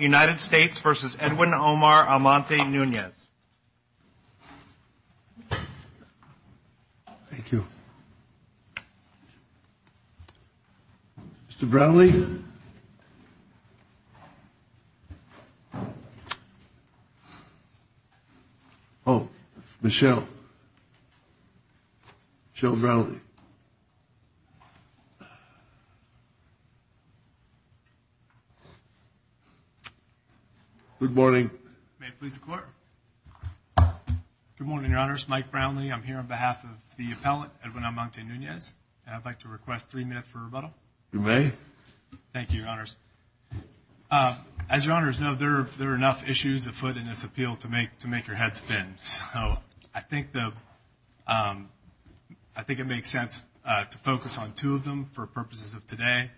United States v. Edwin Omar Almonte-Nunez. Thank you. Mr. Brownlee? Oh, Michelle. Michelle Brownlee. Good morning. May it please the Court? Good morning, Your Honors. Mike Brownlee. I'm here on behalf of the appellate, Edwin Almonte-Nunez. And I'd like to request three minutes for rebuttal. You may. Thank you, Your Honors. As Your Honors know, there are enough issues afoot in this appeal to make your head spin. So I think it makes sense to focus on two of them for purposes of today.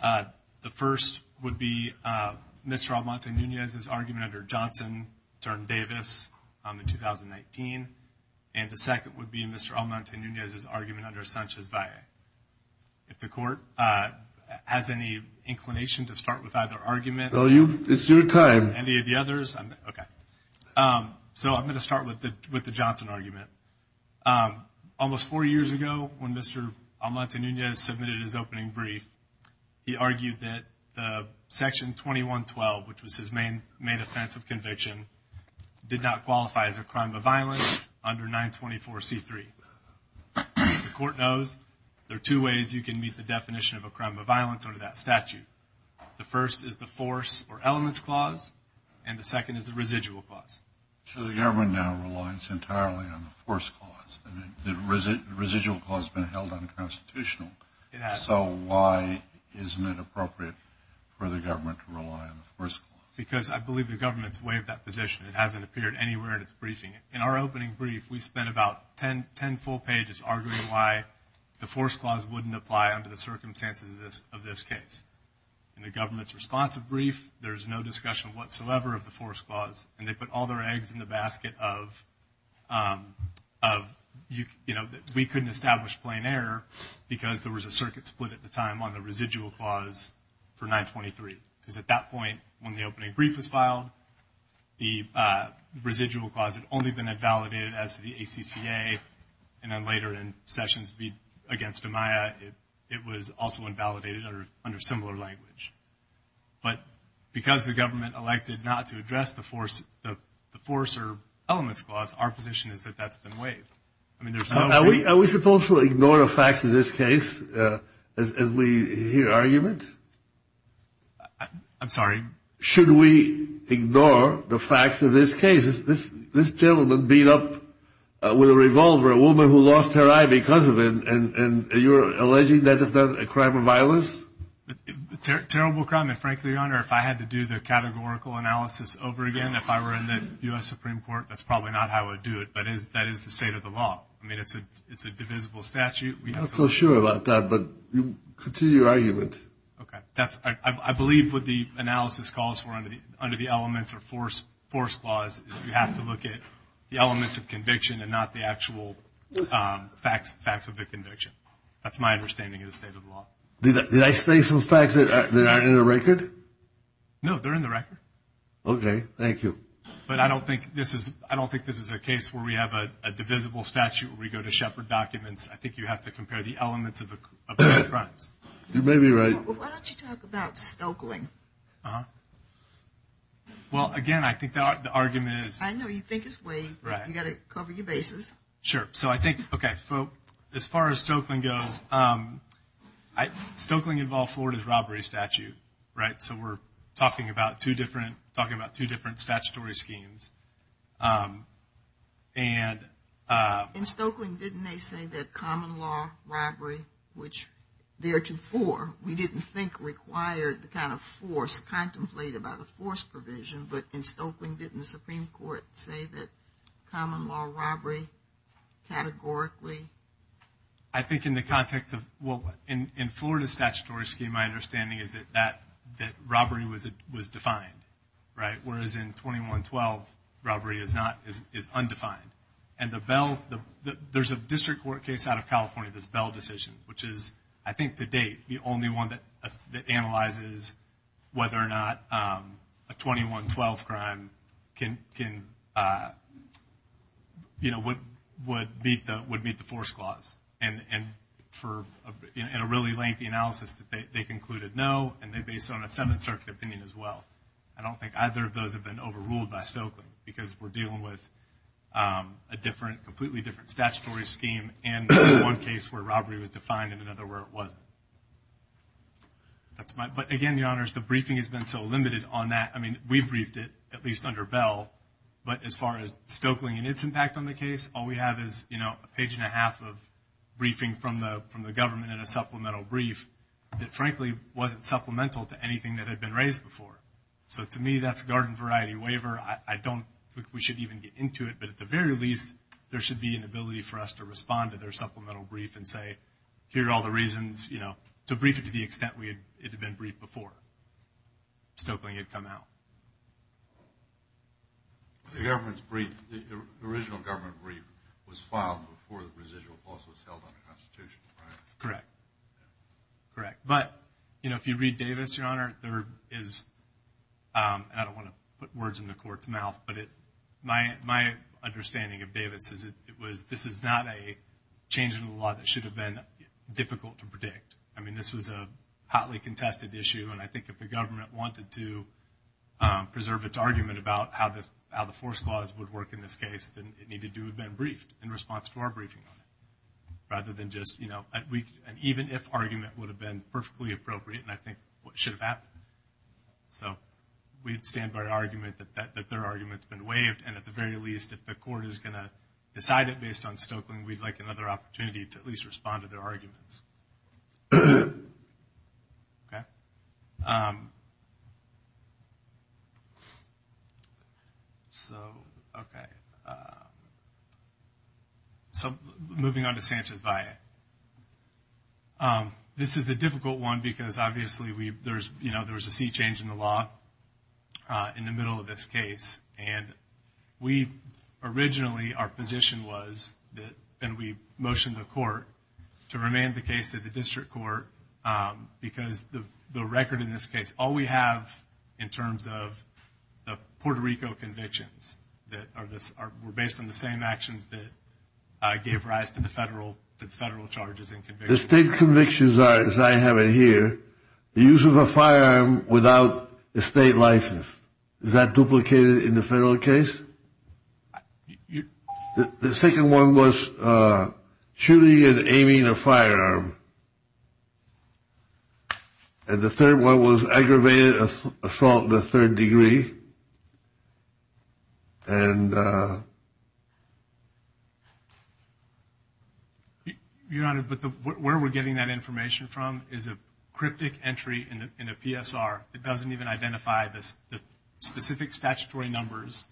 The first would be Mr. Almonte-Nunez's argument under Johnson v. Davis in 2019. And the second would be Mr. Almonte-Nunez's argument under Sanchez-Valle. If the Court has any inclination to start with either argument. It's your time. Any of the others? Okay. So I'm going to start with the Johnson argument. Almost four years ago, when Mr. Almonte-Nunez submitted his opening brief, he argued that Section 2112, which was his main offense of conviction, did not qualify as a crime of violence under 924C3. The Court knows there are two ways you can meet the definition of a crime of violence under that statute. The first is the force or elements clause, and the second is the residual clause. So the government now relies entirely on the force clause. The residual clause has been held unconstitutional. So why isn't it appropriate for the government to rely on the force clause? Because I believe the government's waived that position. It hasn't appeared anywhere in its briefing. In our opening brief, we spent about ten full pages arguing why the force clause wouldn't apply under the circumstances of this case. In the government's responsive brief, there's no discussion whatsoever of the force clause, and they put all their eggs in the basket of, you know, we couldn't establish plain error because there was a circuit split at the time on the residual clause for 923. Because at that point, when the opening brief was filed, the residual clause had only been invalidated as to the ACCA, and then later in Sessions v. Amaya, it was also invalidated under similar language. But because the government elected not to address the force or elements clause, our position is that that's been waived. Are we supposed to ignore the facts of this case as we hear arguments? I'm sorry? Should we ignore the facts of this case? This gentleman beat up with a revolver a woman who lost her eye because of it, and you're alleging that is not a crime of violence? Terrible crime, and frankly, Your Honor, if I had to do the categorical analysis over again, if I were in the U.S. Supreme Court, that's probably not how I would do it, but that is the state of the law. I mean, it's a divisible statute. I'm not so sure about that, but continue your argument. I believe what the analysis calls for under the elements or force clause is you have to look at the elements of conviction and not the actual facts of the conviction. That's my understanding of the state of the law. Did I say some facts that aren't in the record? No, they're in the record. Okay, thank you. But I don't think this is a case where we have a divisible statute where we go to Shepard documents. I think you have to compare the elements of the crimes. You may be right. Why don't you talk about Stokeling? Well, again, I think the argument is... I know you think it's vague, but you've got to cover your bases. Stokeling involved Florida's robbery statute, right? So we're talking about two different statutory schemes. In Stokeling, didn't they say that common law robbery, which there are two for, we didn't think required the kind of force contemplated by the force provision, but in Stokeling didn't the Supreme Court say that common law robbery categorically? I think in the context of... In Florida's statutory scheme, my understanding is that robbery was defined, right? Whereas in 2112, robbery is undefined. There's a district court case out of California that's bell decision, which is, I think, to date, the only one that analyzes whether or not a 2112 crime would meet the force clause. In a really lengthy analysis, they concluded no, and they based it on a Seventh Circuit opinion as well. I don't think either of those have been overruled by Stokeling, because we're dealing with a completely different statutory scheme, and one case where robbery was defined and another where it wasn't. But again, Your Honors, the briefing has been so limited on that. We briefed it, at least under Bell, but as far as Stokeling and its impact on the case, all we have is a page and a half of briefing from the government in a supplemental brief that frankly wasn't supplemental to anything that had been raised before. So to me, that's a garden variety waiver. We should even get into it, but at the very least, there should be an ability for us to respond to their supplemental brief and say, here are all the reasons to brief it to the extent it had been briefed before Stokeling had come out. The original government brief was filed before the residual clause was held under the Constitution, right? Correct. But if you read Davis, Your Honor, I don't want to put words in the court's mouth, but my understanding of Davis is that this is not a change in the law that should have been difficult to predict. This was a hotly contested issue, and I think if the government wanted to preserve its argument about how the force clause would work in this case, then it needed to have been briefed in response to our briefing on it, and even if argument would have been perfectly appropriate, and I think it should have happened. So we'd stand by our argument that their argument's been waived, and at the very least, if the court is going to decide it based on Stokeling, we'd like another opportunity to at least respond to their arguments. So moving on to Sanchez-Vaillant. This is a difficult one because obviously there was a seat change in the law in the middle of this case, and we originally, our position was that, and we motioned to the court to remand the case to the district court, because the record in this case, all we have in terms of the Puerto Rico convictions that were based on the same actions that gave rise to the federal charges and convictions. The state convictions are, as I have it here, the use of a firearm without a state license. Is that duplicated in the federal case? The second one was shooting and aiming a firearm. And the third one was aggravated assault in the third degree. Your Honor, but where we're getting that information from is a cryptic entry in a PSR. It doesn't even identify the specific statutory numbers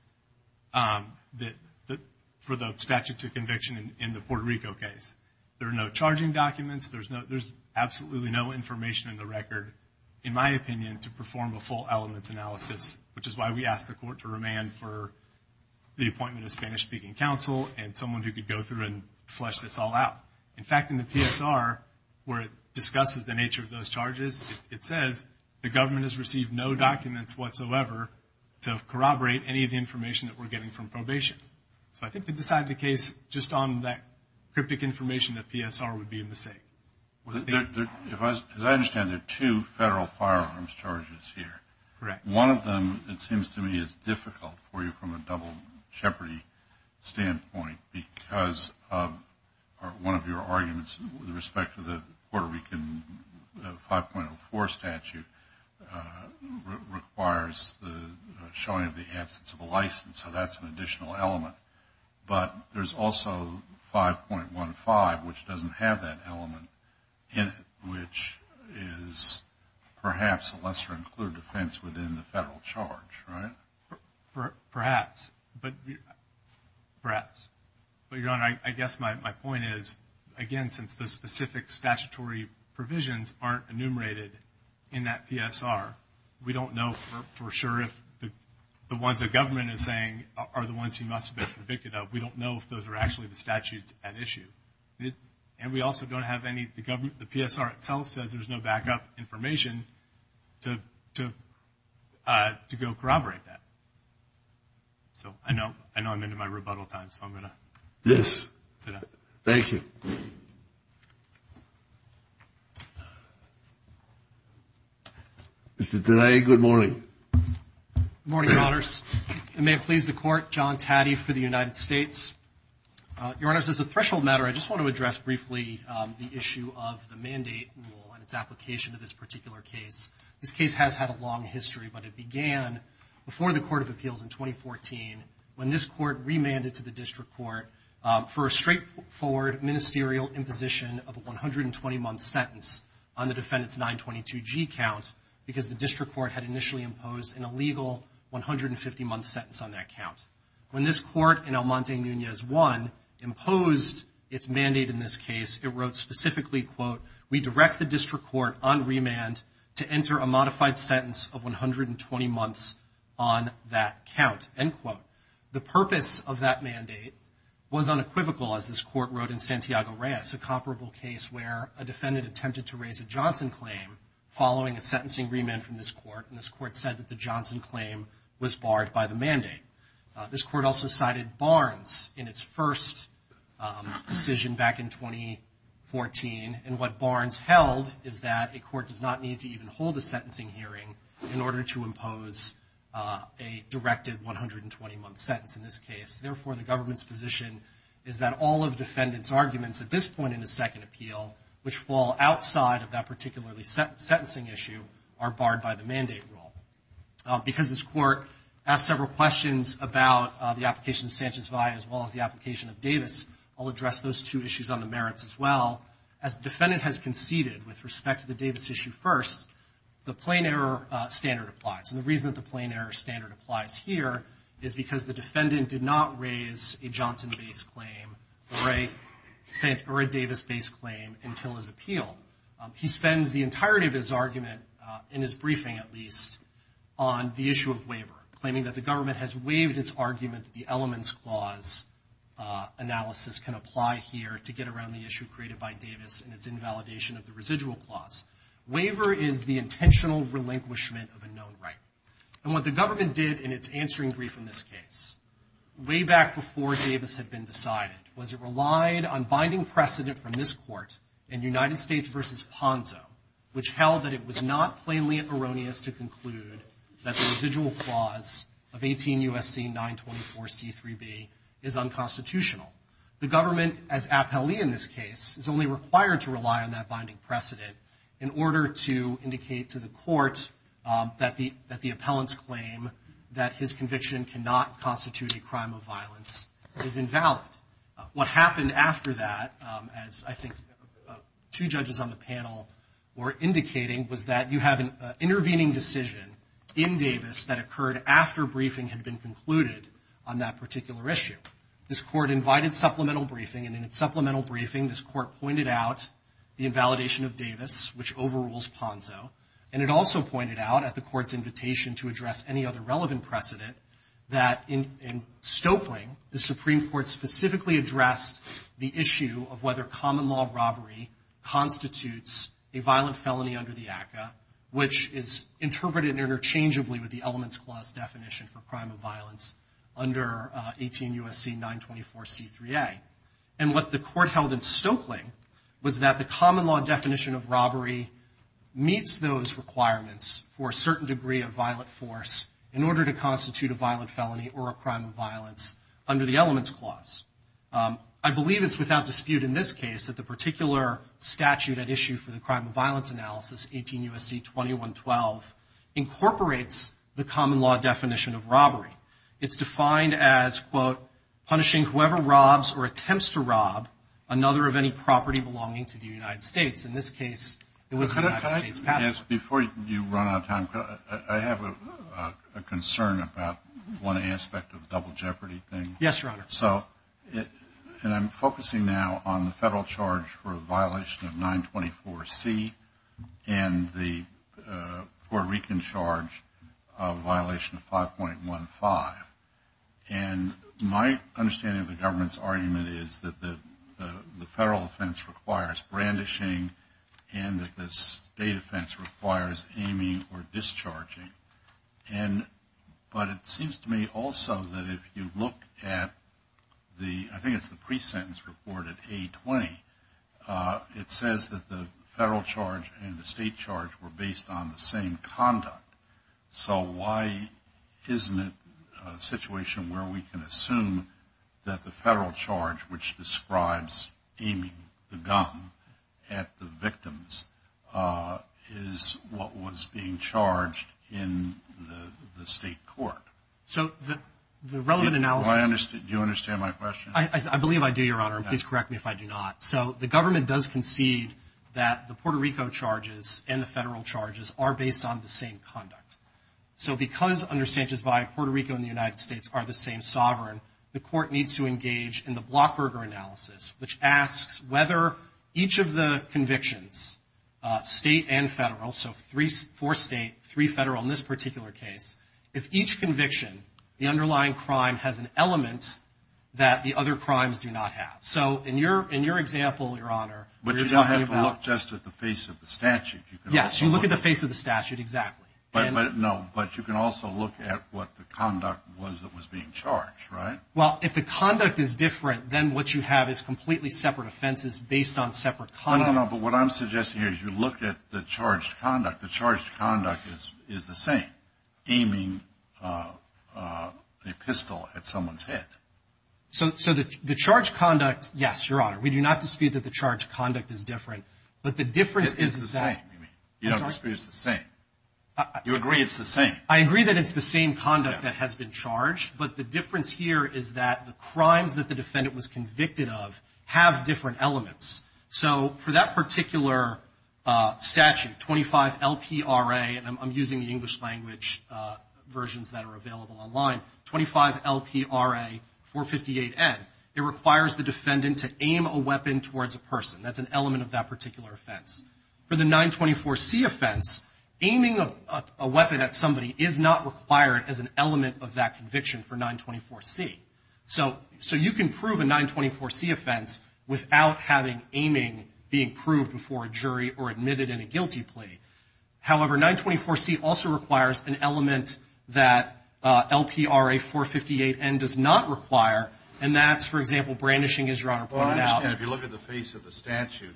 for the statute of conviction in the Puerto Rico case. There are no charging documents. There's absolutely no information in the record, in my opinion, to perform a full elements analysis, which is why we asked the court to remand for the appointment of Spanish-speaking counsel and someone who could go through and flesh this all out. In fact, in the PSR, where it discusses the nature of those charges, it says, the government has received no documents whatsoever to corroborate any of the information that we're getting from probation. So I think to decide the case just on that cryptic information, the PSR would be a mistake. As I understand, there are two federal firearms charges here. One of them, it seems to me, is difficult for you from a double jeopardy standpoint because one of your arguments with respect to the Puerto Rican 5.04 statute requires the showing of the absence of a license, so that's an additional element. But there's also 5.15, which doesn't have that element in it, which is perhaps a lesser-included offense within the federal charge, right? Perhaps. But, Your Honor, I guess my point is, again, since the specific statutory provisions aren't enumerated in that PSR, we don't know for sure if the ones the government is saying are the ones he must have been convicted of. We don't know if those are actually the statutes at issue. And we also don't have any, the PSR itself says there's no backup information to go corroborate that. So I know I'm into my rebuttal time, so I'm going to sit down. Thank you. Good morning. Good morning, Your Honors. May it please the Court, John Taddy for the United States. Your Honors, as a threshold matter, I just want to address briefly the issue of the mandate rule and its application to this particular case. This case has had a long history, but it began before the Court of Appeals in 2014 when this court remanded to the district court for a straightforward ministerial imposition of a 120-month sentence on the defendant's 922G count because the district court had initially imposed an illegal 150-month sentence on that count. When this court in El Monte Nunez 1 imposed its mandate in this case, it wrote specifically, quote, we direct the district court on remand to enter a modified sentence of 120 months on that count, end quote. The purpose of that mandate was unequivocal, as this court wrote in Santiago Reyes, a comparable case where a defendant attempted to raise a Johnson claim following a sentencing remand from this court, and this court said that the Johnson claim was barred by the mandate. This court also cited Barnes in its first decision back in 2014, and what Barnes held is that a court does not need to even hold a sentencing hearing in order to impose a directed 120-month sentence in this case. Therefore, the government's position is that all of the defendant's arguments at this point in the second appeal, which fall outside of that particularly sentencing issue, are barred by the mandate rule. Because this court asked several questions about the application of Sanchez-Vaya as well as the application of Davis, I'll address those two issues on the merits as well. As the defendant has conceded with respect to the Davis issue first, the plain error standard applies, and the reason that the plain error standard applies here is because the defendant did not raise a Johnson-based claim or a Davis-based claim until his appeal. He spends the entirety of his argument, in his briefing at least, on the issue of waiver, claiming that the government has waived its argument that the elements clause analysis can apply here to get around the issue created by Davis and its invalidation of the residual clause. Waiver is the intentional relinquishment of a known right. And what the government did in its answering brief in this case, way back before Davis had been decided, was it relied on binding precedent from this court in United States v. Ponzo, which held that it was not plainly erroneous to conclude that the residual clause of 18 U.S.C. 924 C.3.B. is unconstitutional. The government, as appellee in this case, is only required to rely on that binding precedent in order to indicate to the court that the appellant's claim that his conviction cannot constitute a crime of violence is invalid. What happened after that, as I think two judges on the panel were indicating, was that you have an intervening decision in Davis that occurred after briefing had been concluded on that particular issue. This court invited supplemental briefing, and in its supplemental briefing, this court pointed out the invalidation of Davis, which overrules Ponzo. And it also pointed out, at the court's invitation to address any other relevant precedent, that in Stoepling, the Supreme Court specifically addressed the issue of whether common law robbery constitutes a violent felony under the ACCA, which is interpreted interchangeably with the Elements Clause definition for crime of violence under 18 U.S.C. 924 C.3.A. And what the court held in Stoepling was that the common law definition of robbery meets those requirements for a certain degree of violent force in order to constitute a violent felony or a crime of violence under the Elements Clause. I believe it's without dispute in this case that the particular statute at issue for the crime of violence analysis, 18 U.S.C. 2112, incorporates the common law definition of robbery. It's defined as, quote, punishing whoever robs or attempts to rob another of any property belonging to the United States. In this case, it was the United States passenger. Yes, before you run out of time, I have a concern about one aspect of the double jeopardy thing. Yes, Your Honor. And I'm focusing now on the federal charge for a violation of 924 C. and the Puerto Rican charge of violation of 5.15. And my understanding of the government's argument is that the federal offense requires brandishing and that the state offense requires aiming or discharging. But it seems to me also that if you look at the, I think it's the pre-sentence report at A20, it says that the federal charge and the state charge were based on the same conduct. So why isn't it a situation where we can assume that the federal charge, which describes aiming the gun at the victims, is what was being charged in the state court? So the relevant analysis... Do you understand my question? I believe I do, Your Honor, and please correct me if I do not. So the government does concede that the Puerto Rico charges and the federal charges are based on the same conduct. So because understandings by Puerto Rico and the United States are the same sovereign, the court needs to engage in the Blockberger analysis, which asks whether each of the convictions, state and federal, so four state, three federal in this particular case, if each conviction, the underlying crime has an element that the other crimes do not have. So in your example, Your Honor... But you don't have to look just at the face of the statute. Yes, you look at the face of the statute, exactly. No, but you can also look at what the conduct was that was being charged, right? Well, if the conduct is different, then what you have is completely separate offenses based on separate conduct. No, no, no, but what I'm suggesting here is you look at the charged conduct. The charged conduct is the same, aiming a pistol at someone's head. So the charged conduct, yes, Your Honor, we do not dispute that the charged conduct is different, but the difference is that... You don't dispute it's the same. You agree it's the same. I agree that it's the same conduct that has been charged, but the difference here is that the crimes that the defendant was convicted of have different elements. So for that particular statute, 25LPRA, and I'm using the English language versions that are available online, 25LPRA 458N, it requires the defendant to aim a weapon towards a person. That's an element of that particular offense. For the 924C offense, aiming a weapon at somebody is not required as an element of that conviction for 924C. So you can prove a 924C offense without having aiming being proved before a jury or admitted in a guilty plea. However, 924C also requires an element that LPRA 458N does not require, and that's, for example, brandishing, as Your Honor pointed out. I understand. If you look at the face of the statute,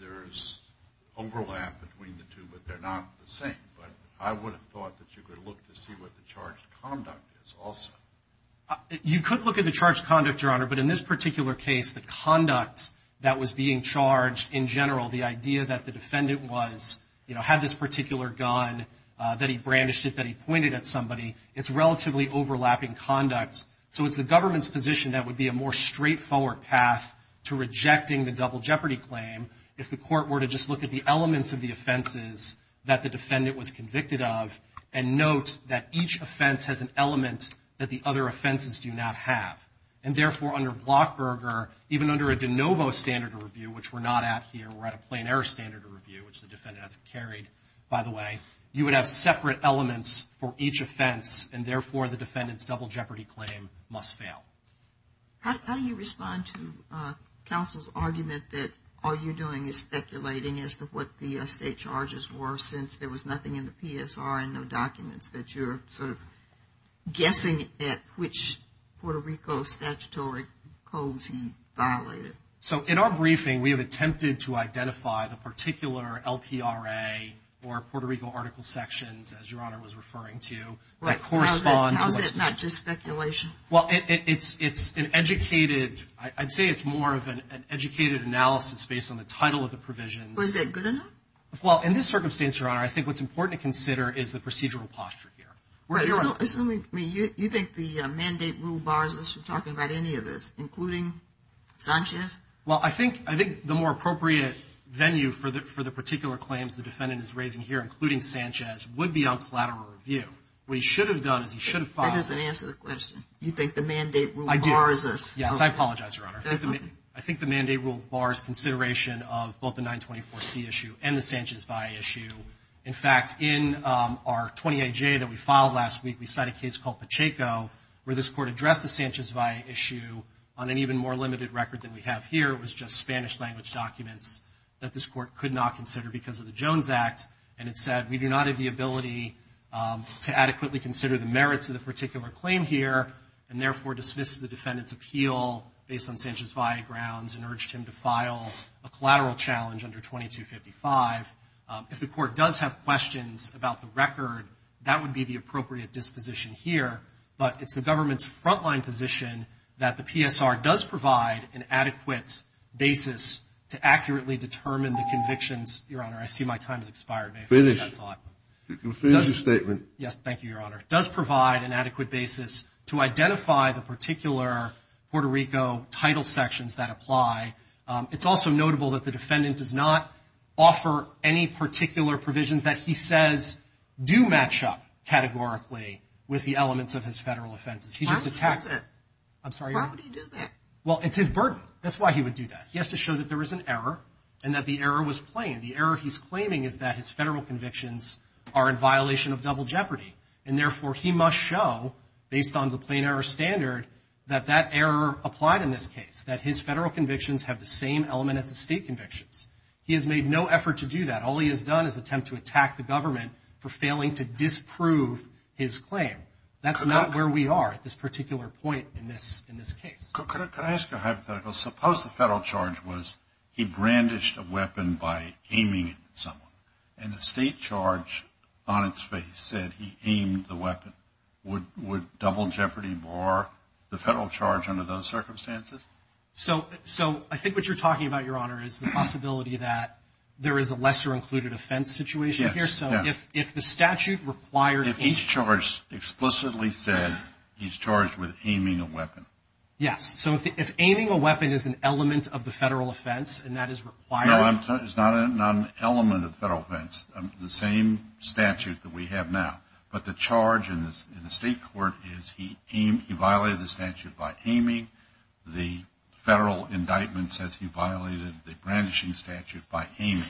there's overlap between the two, but they're not the same. But I would have thought that you could look to see what the charged conduct is also. You could look at the charged conduct, Your Honor, but in this particular case, the conduct that was being charged in general, the idea that the defendant was, you know, had this particular gun, that he brandished it, that he pointed at somebody, it's relatively overlapping conduct. So it's the government's position that would be a more straightforward path to rejecting the double jeopardy claim if the court were to just look at the elements of the offenses that the defendant was convicted of and note that each offense has an element that the other offenses do not have. And therefore, under Blockberger, even under a de novo standard review, which we're not at here, we're at a plain error standard review, which the defendant hasn't carried, by the way, you would have separate elements for each offense. And therefore, the defendant's double jeopardy claim must fail. How do you respond to counsel's argument that all you're doing is speculating as to what the state charges were since there was nothing in the PSR and no documents, that you're sort of guessing at which Puerto Rico statutory codes he violated? So in our briefing, we have attempted to identify the particular LPRA or Puerto Rico article sections, as Your Honor was referring to, that correspond to what's been said. How is that not just speculation? Well, it's an educated, I'd say it's more of an educated analysis based on the title of the provisions. Well, is that good enough? Well, in this circumstance, Your Honor, I think what's important to consider is the procedural posture here. Assuming you think the mandate rule bars us from talking about any of this, including Sanchez? Well, I think the more appropriate venue for the particular claims the defendant is raising here, including Sanchez, would be on collateral review. What he should have done is he should have filed. That doesn't answer the question. You think the mandate rule bars us? I do. Yes, I apologize, Your Honor. That's okay. I think the mandate rule bars consideration of both the 924C issue and the Sanchez-Valle issue. In fact, in our 28J that we filed last week, we cited a case called Pacheco, where this court addressed the Sanchez-Valle issue on an even more limited record than we have here. It was just Spanish language documents that this court could not consider because of the Jones Act. And it said, we do not have the ability to adequately consider the merits of the particular claim here, and therefore dismissed the defendant's appeal based on Sanchez-Valle grounds and urged him to file a collateral challenge under 2255. If the court does have questions about the record, that would be the appropriate disposition here. But it's the government's frontline position that the PSR does provide an adequate basis to accurately determine the convictions. Your Honor, I see my time has expired. May I finish my thought? Finish your statement. Yes, thank you, Your Honor. It does provide an adequate basis to identify the particular Puerto Rico title sections that apply. It's also notable that the defendant does not offer any particular provisions that he says do match up categorically with the elements of his federal offenses. Why would he do that? I'm sorry, Your Honor? Why would he do that? Well, it's his burden. That's why he would do that. He has to show that there is an error and that the error was plain. The error he's claiming is that his federal convictions are in violation of double jeopardy, and therefore he must show, based on the plain error standard, that that error applied in this case, that his federal convictions have the same element as the state convictions. He has made no effort to do that. All he has done is attempt to attack the government for failing to disprove his claim. That's not where we are at this particular point in this case. Could I ask a hypothetical? Suppose the federal charge was he brandished a weapon by aiming it at someone, and the state charge on its face said he aimed the weapon. Would double jeopardy bar the federal charge under those circumstances? So I think what you're talking about, Your Honor, is the possibility that there is a lesser included offense situation here. Yes, yes. So if the statute required him. If each charge explicitly said he's charged with aiming a weapon. Yes. So if aiming a weapon is an element of the federal offense and that is required. No, it's not an element of the federal offense. It's the same statute that we have now. But the charge in the state court is he violated the statute by aiming. The federal indictment says he violated the brandishing statute by aiming.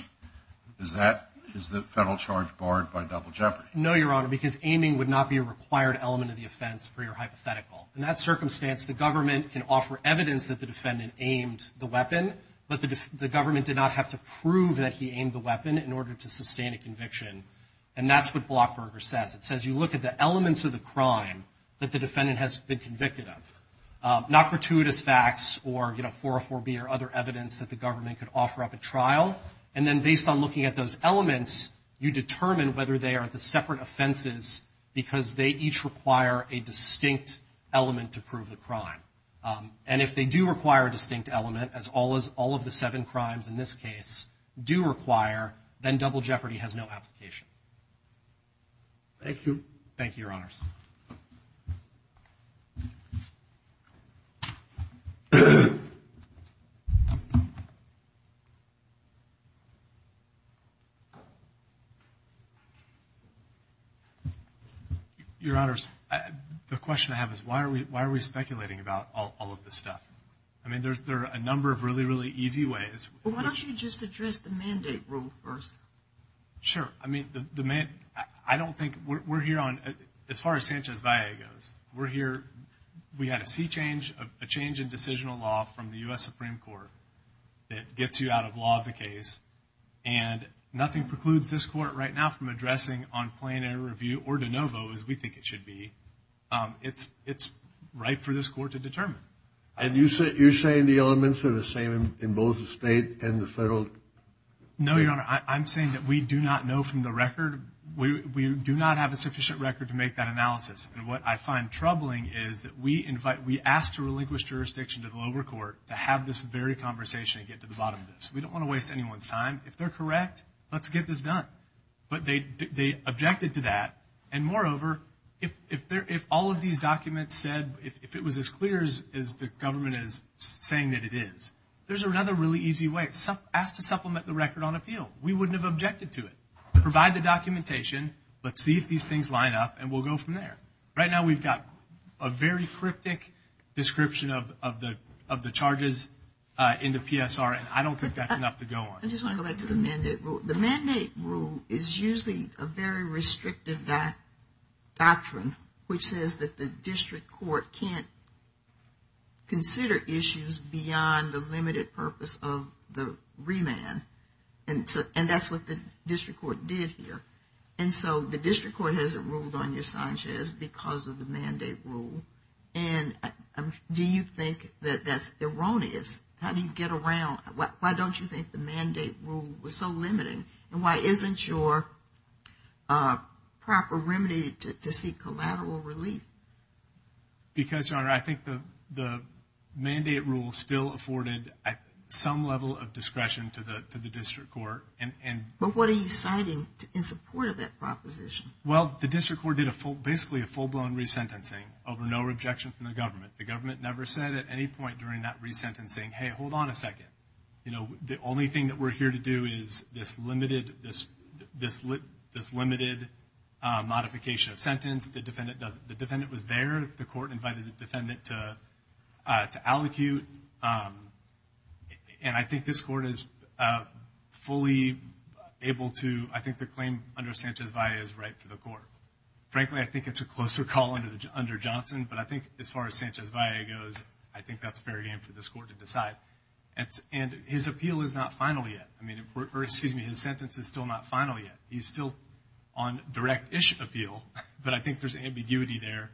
Is the federal charge barred by double jeopardy? No, Your Honor, because aiming would not be a required element of the offense for your hypothetical. In that circumstance, the government can offer evidence that the defendant aimed the weapon, but the government did not have to prove that he aimed the weapon in order to sustain a conviction. And that's what Blockberger says. It says you look at the elements of the crime that the defendant has been convicted of. Not gratuitous facts or, you know, 404B or other evidence that the government could offer up at trial. And then based on looking at those elements, you determine whether they are the separate offenses because they each require a distinct element to prove the crime. And if they do require a distinct element, as all of the seven crimes in this case do require, then double jeopardy has no application. Thank you. Thank you, Your Honors. Your Honors, the question I have is why are we speculating about all of this stuff? I mean, there are a number of really, really easy ways. Why don't you just address the mandate rule first? Sure. I mean, the mandate ‑‑ I don't think we're here on ‑‑ as far as I'm concerned, We're here ‑‑ we had a sea change, a change in decisional law from the U.S. Supreme Court that gets you out of law of the case. And nothing precludes this court right now from addressing on plain air review or de novo as we think it should be. It's right for this court to determine. And you're saying the elements are the same in both the state and the federal? No, Your Honor. I'm saying that we do not know from the record. We do not have a sufficient record to make that analysis. And what I find troubling is that we ask to relinquish jurisdiction to the lower court to have this very conversation and get to the bottom of this. We don't want to waste anyone's time. If they're correct, let's get this done. But they objected to that. And moreover, if all of these documents said, if it was as clear as the government is saying that it is, there's another really easy way. Ask to supplement the record on appeal. We wouldn't have objected to it. Provide the documentation. Let's see if these things line up, and we'll go from there. Right now we've got a very cryptic description of the charges in the PSR, and I don't think that's enough to go on. I just want to go back to the mandate rule. The mandate rule is usually a very restrictive doctrine, which says that the district court can't consider issues beyond the limited purpose of the remand. And that's what the district court did here. And so the district court hasn't ruled on your Sanchez because of the mandate rule. And do you think that that's erroneous? How do you get around? Why don't you think the mandate rule was so limiting? And why isn't your proper remedy to seek collateral relief? Because, Your Honor, I think the mandate rule still afforded some level of discretion to the district court. But what are you citing in support of that proposition? Well, the district court did basically a full-blown resentencing over no objection from the government. The government never said at any point during that resentencing, hey, hold on a second. You know, the only thing that we're here to do is this limited modification of sentence. The defendant was there. The court invited the defendant to allocute. And I think this court is fully able to, I think the claim under Sanchez-Valle is right for the court. Frankly, I think it's a closer call under Johnson. But I think as far as Sanchez-Valle goes, I think that's fair game for this court to decide. And his appeal is not final yet. I mean, or excuse me, his sentence is still not final yet. He's still on direct-ish appeal. But I think there's ambiguity there.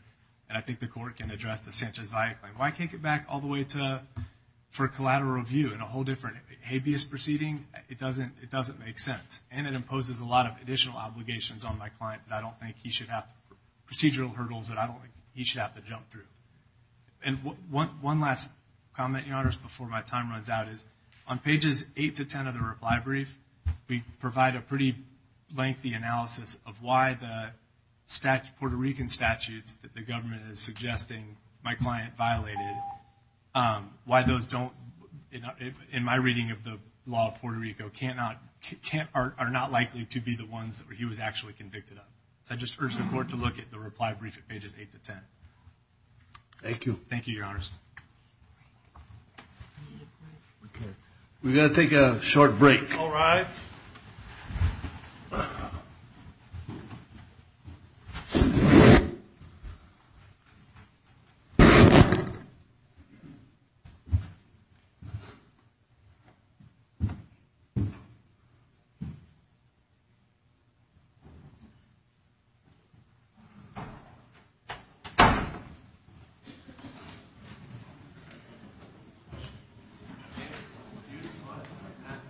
And I think the court can address the Sanchez-Valle claim. Why take it back all the way to for collateral review and a whole different habeas proceeding? It doesn't make sense. And it imposes a lot of additional obligations on my client that I don't think he should have, procedural hurdles that I don't think he should have to jump through. And one last comment, Your Honors, before my time runs out is on pages 8 to 10 of the reply brief, we provide a pretty lengthy analysis of why the Puerto Rican statutes that the government is suggesting my client violated, why those don't, in my reading of the law of Puerto Rico, are not likely to be the ones that he was actually convicted of. So I just urge the court to look at the reply brief at pages 8 to 10. Thank you. Thank you, Your Honors. Okay. We've got to take a short break. All rise. Okay.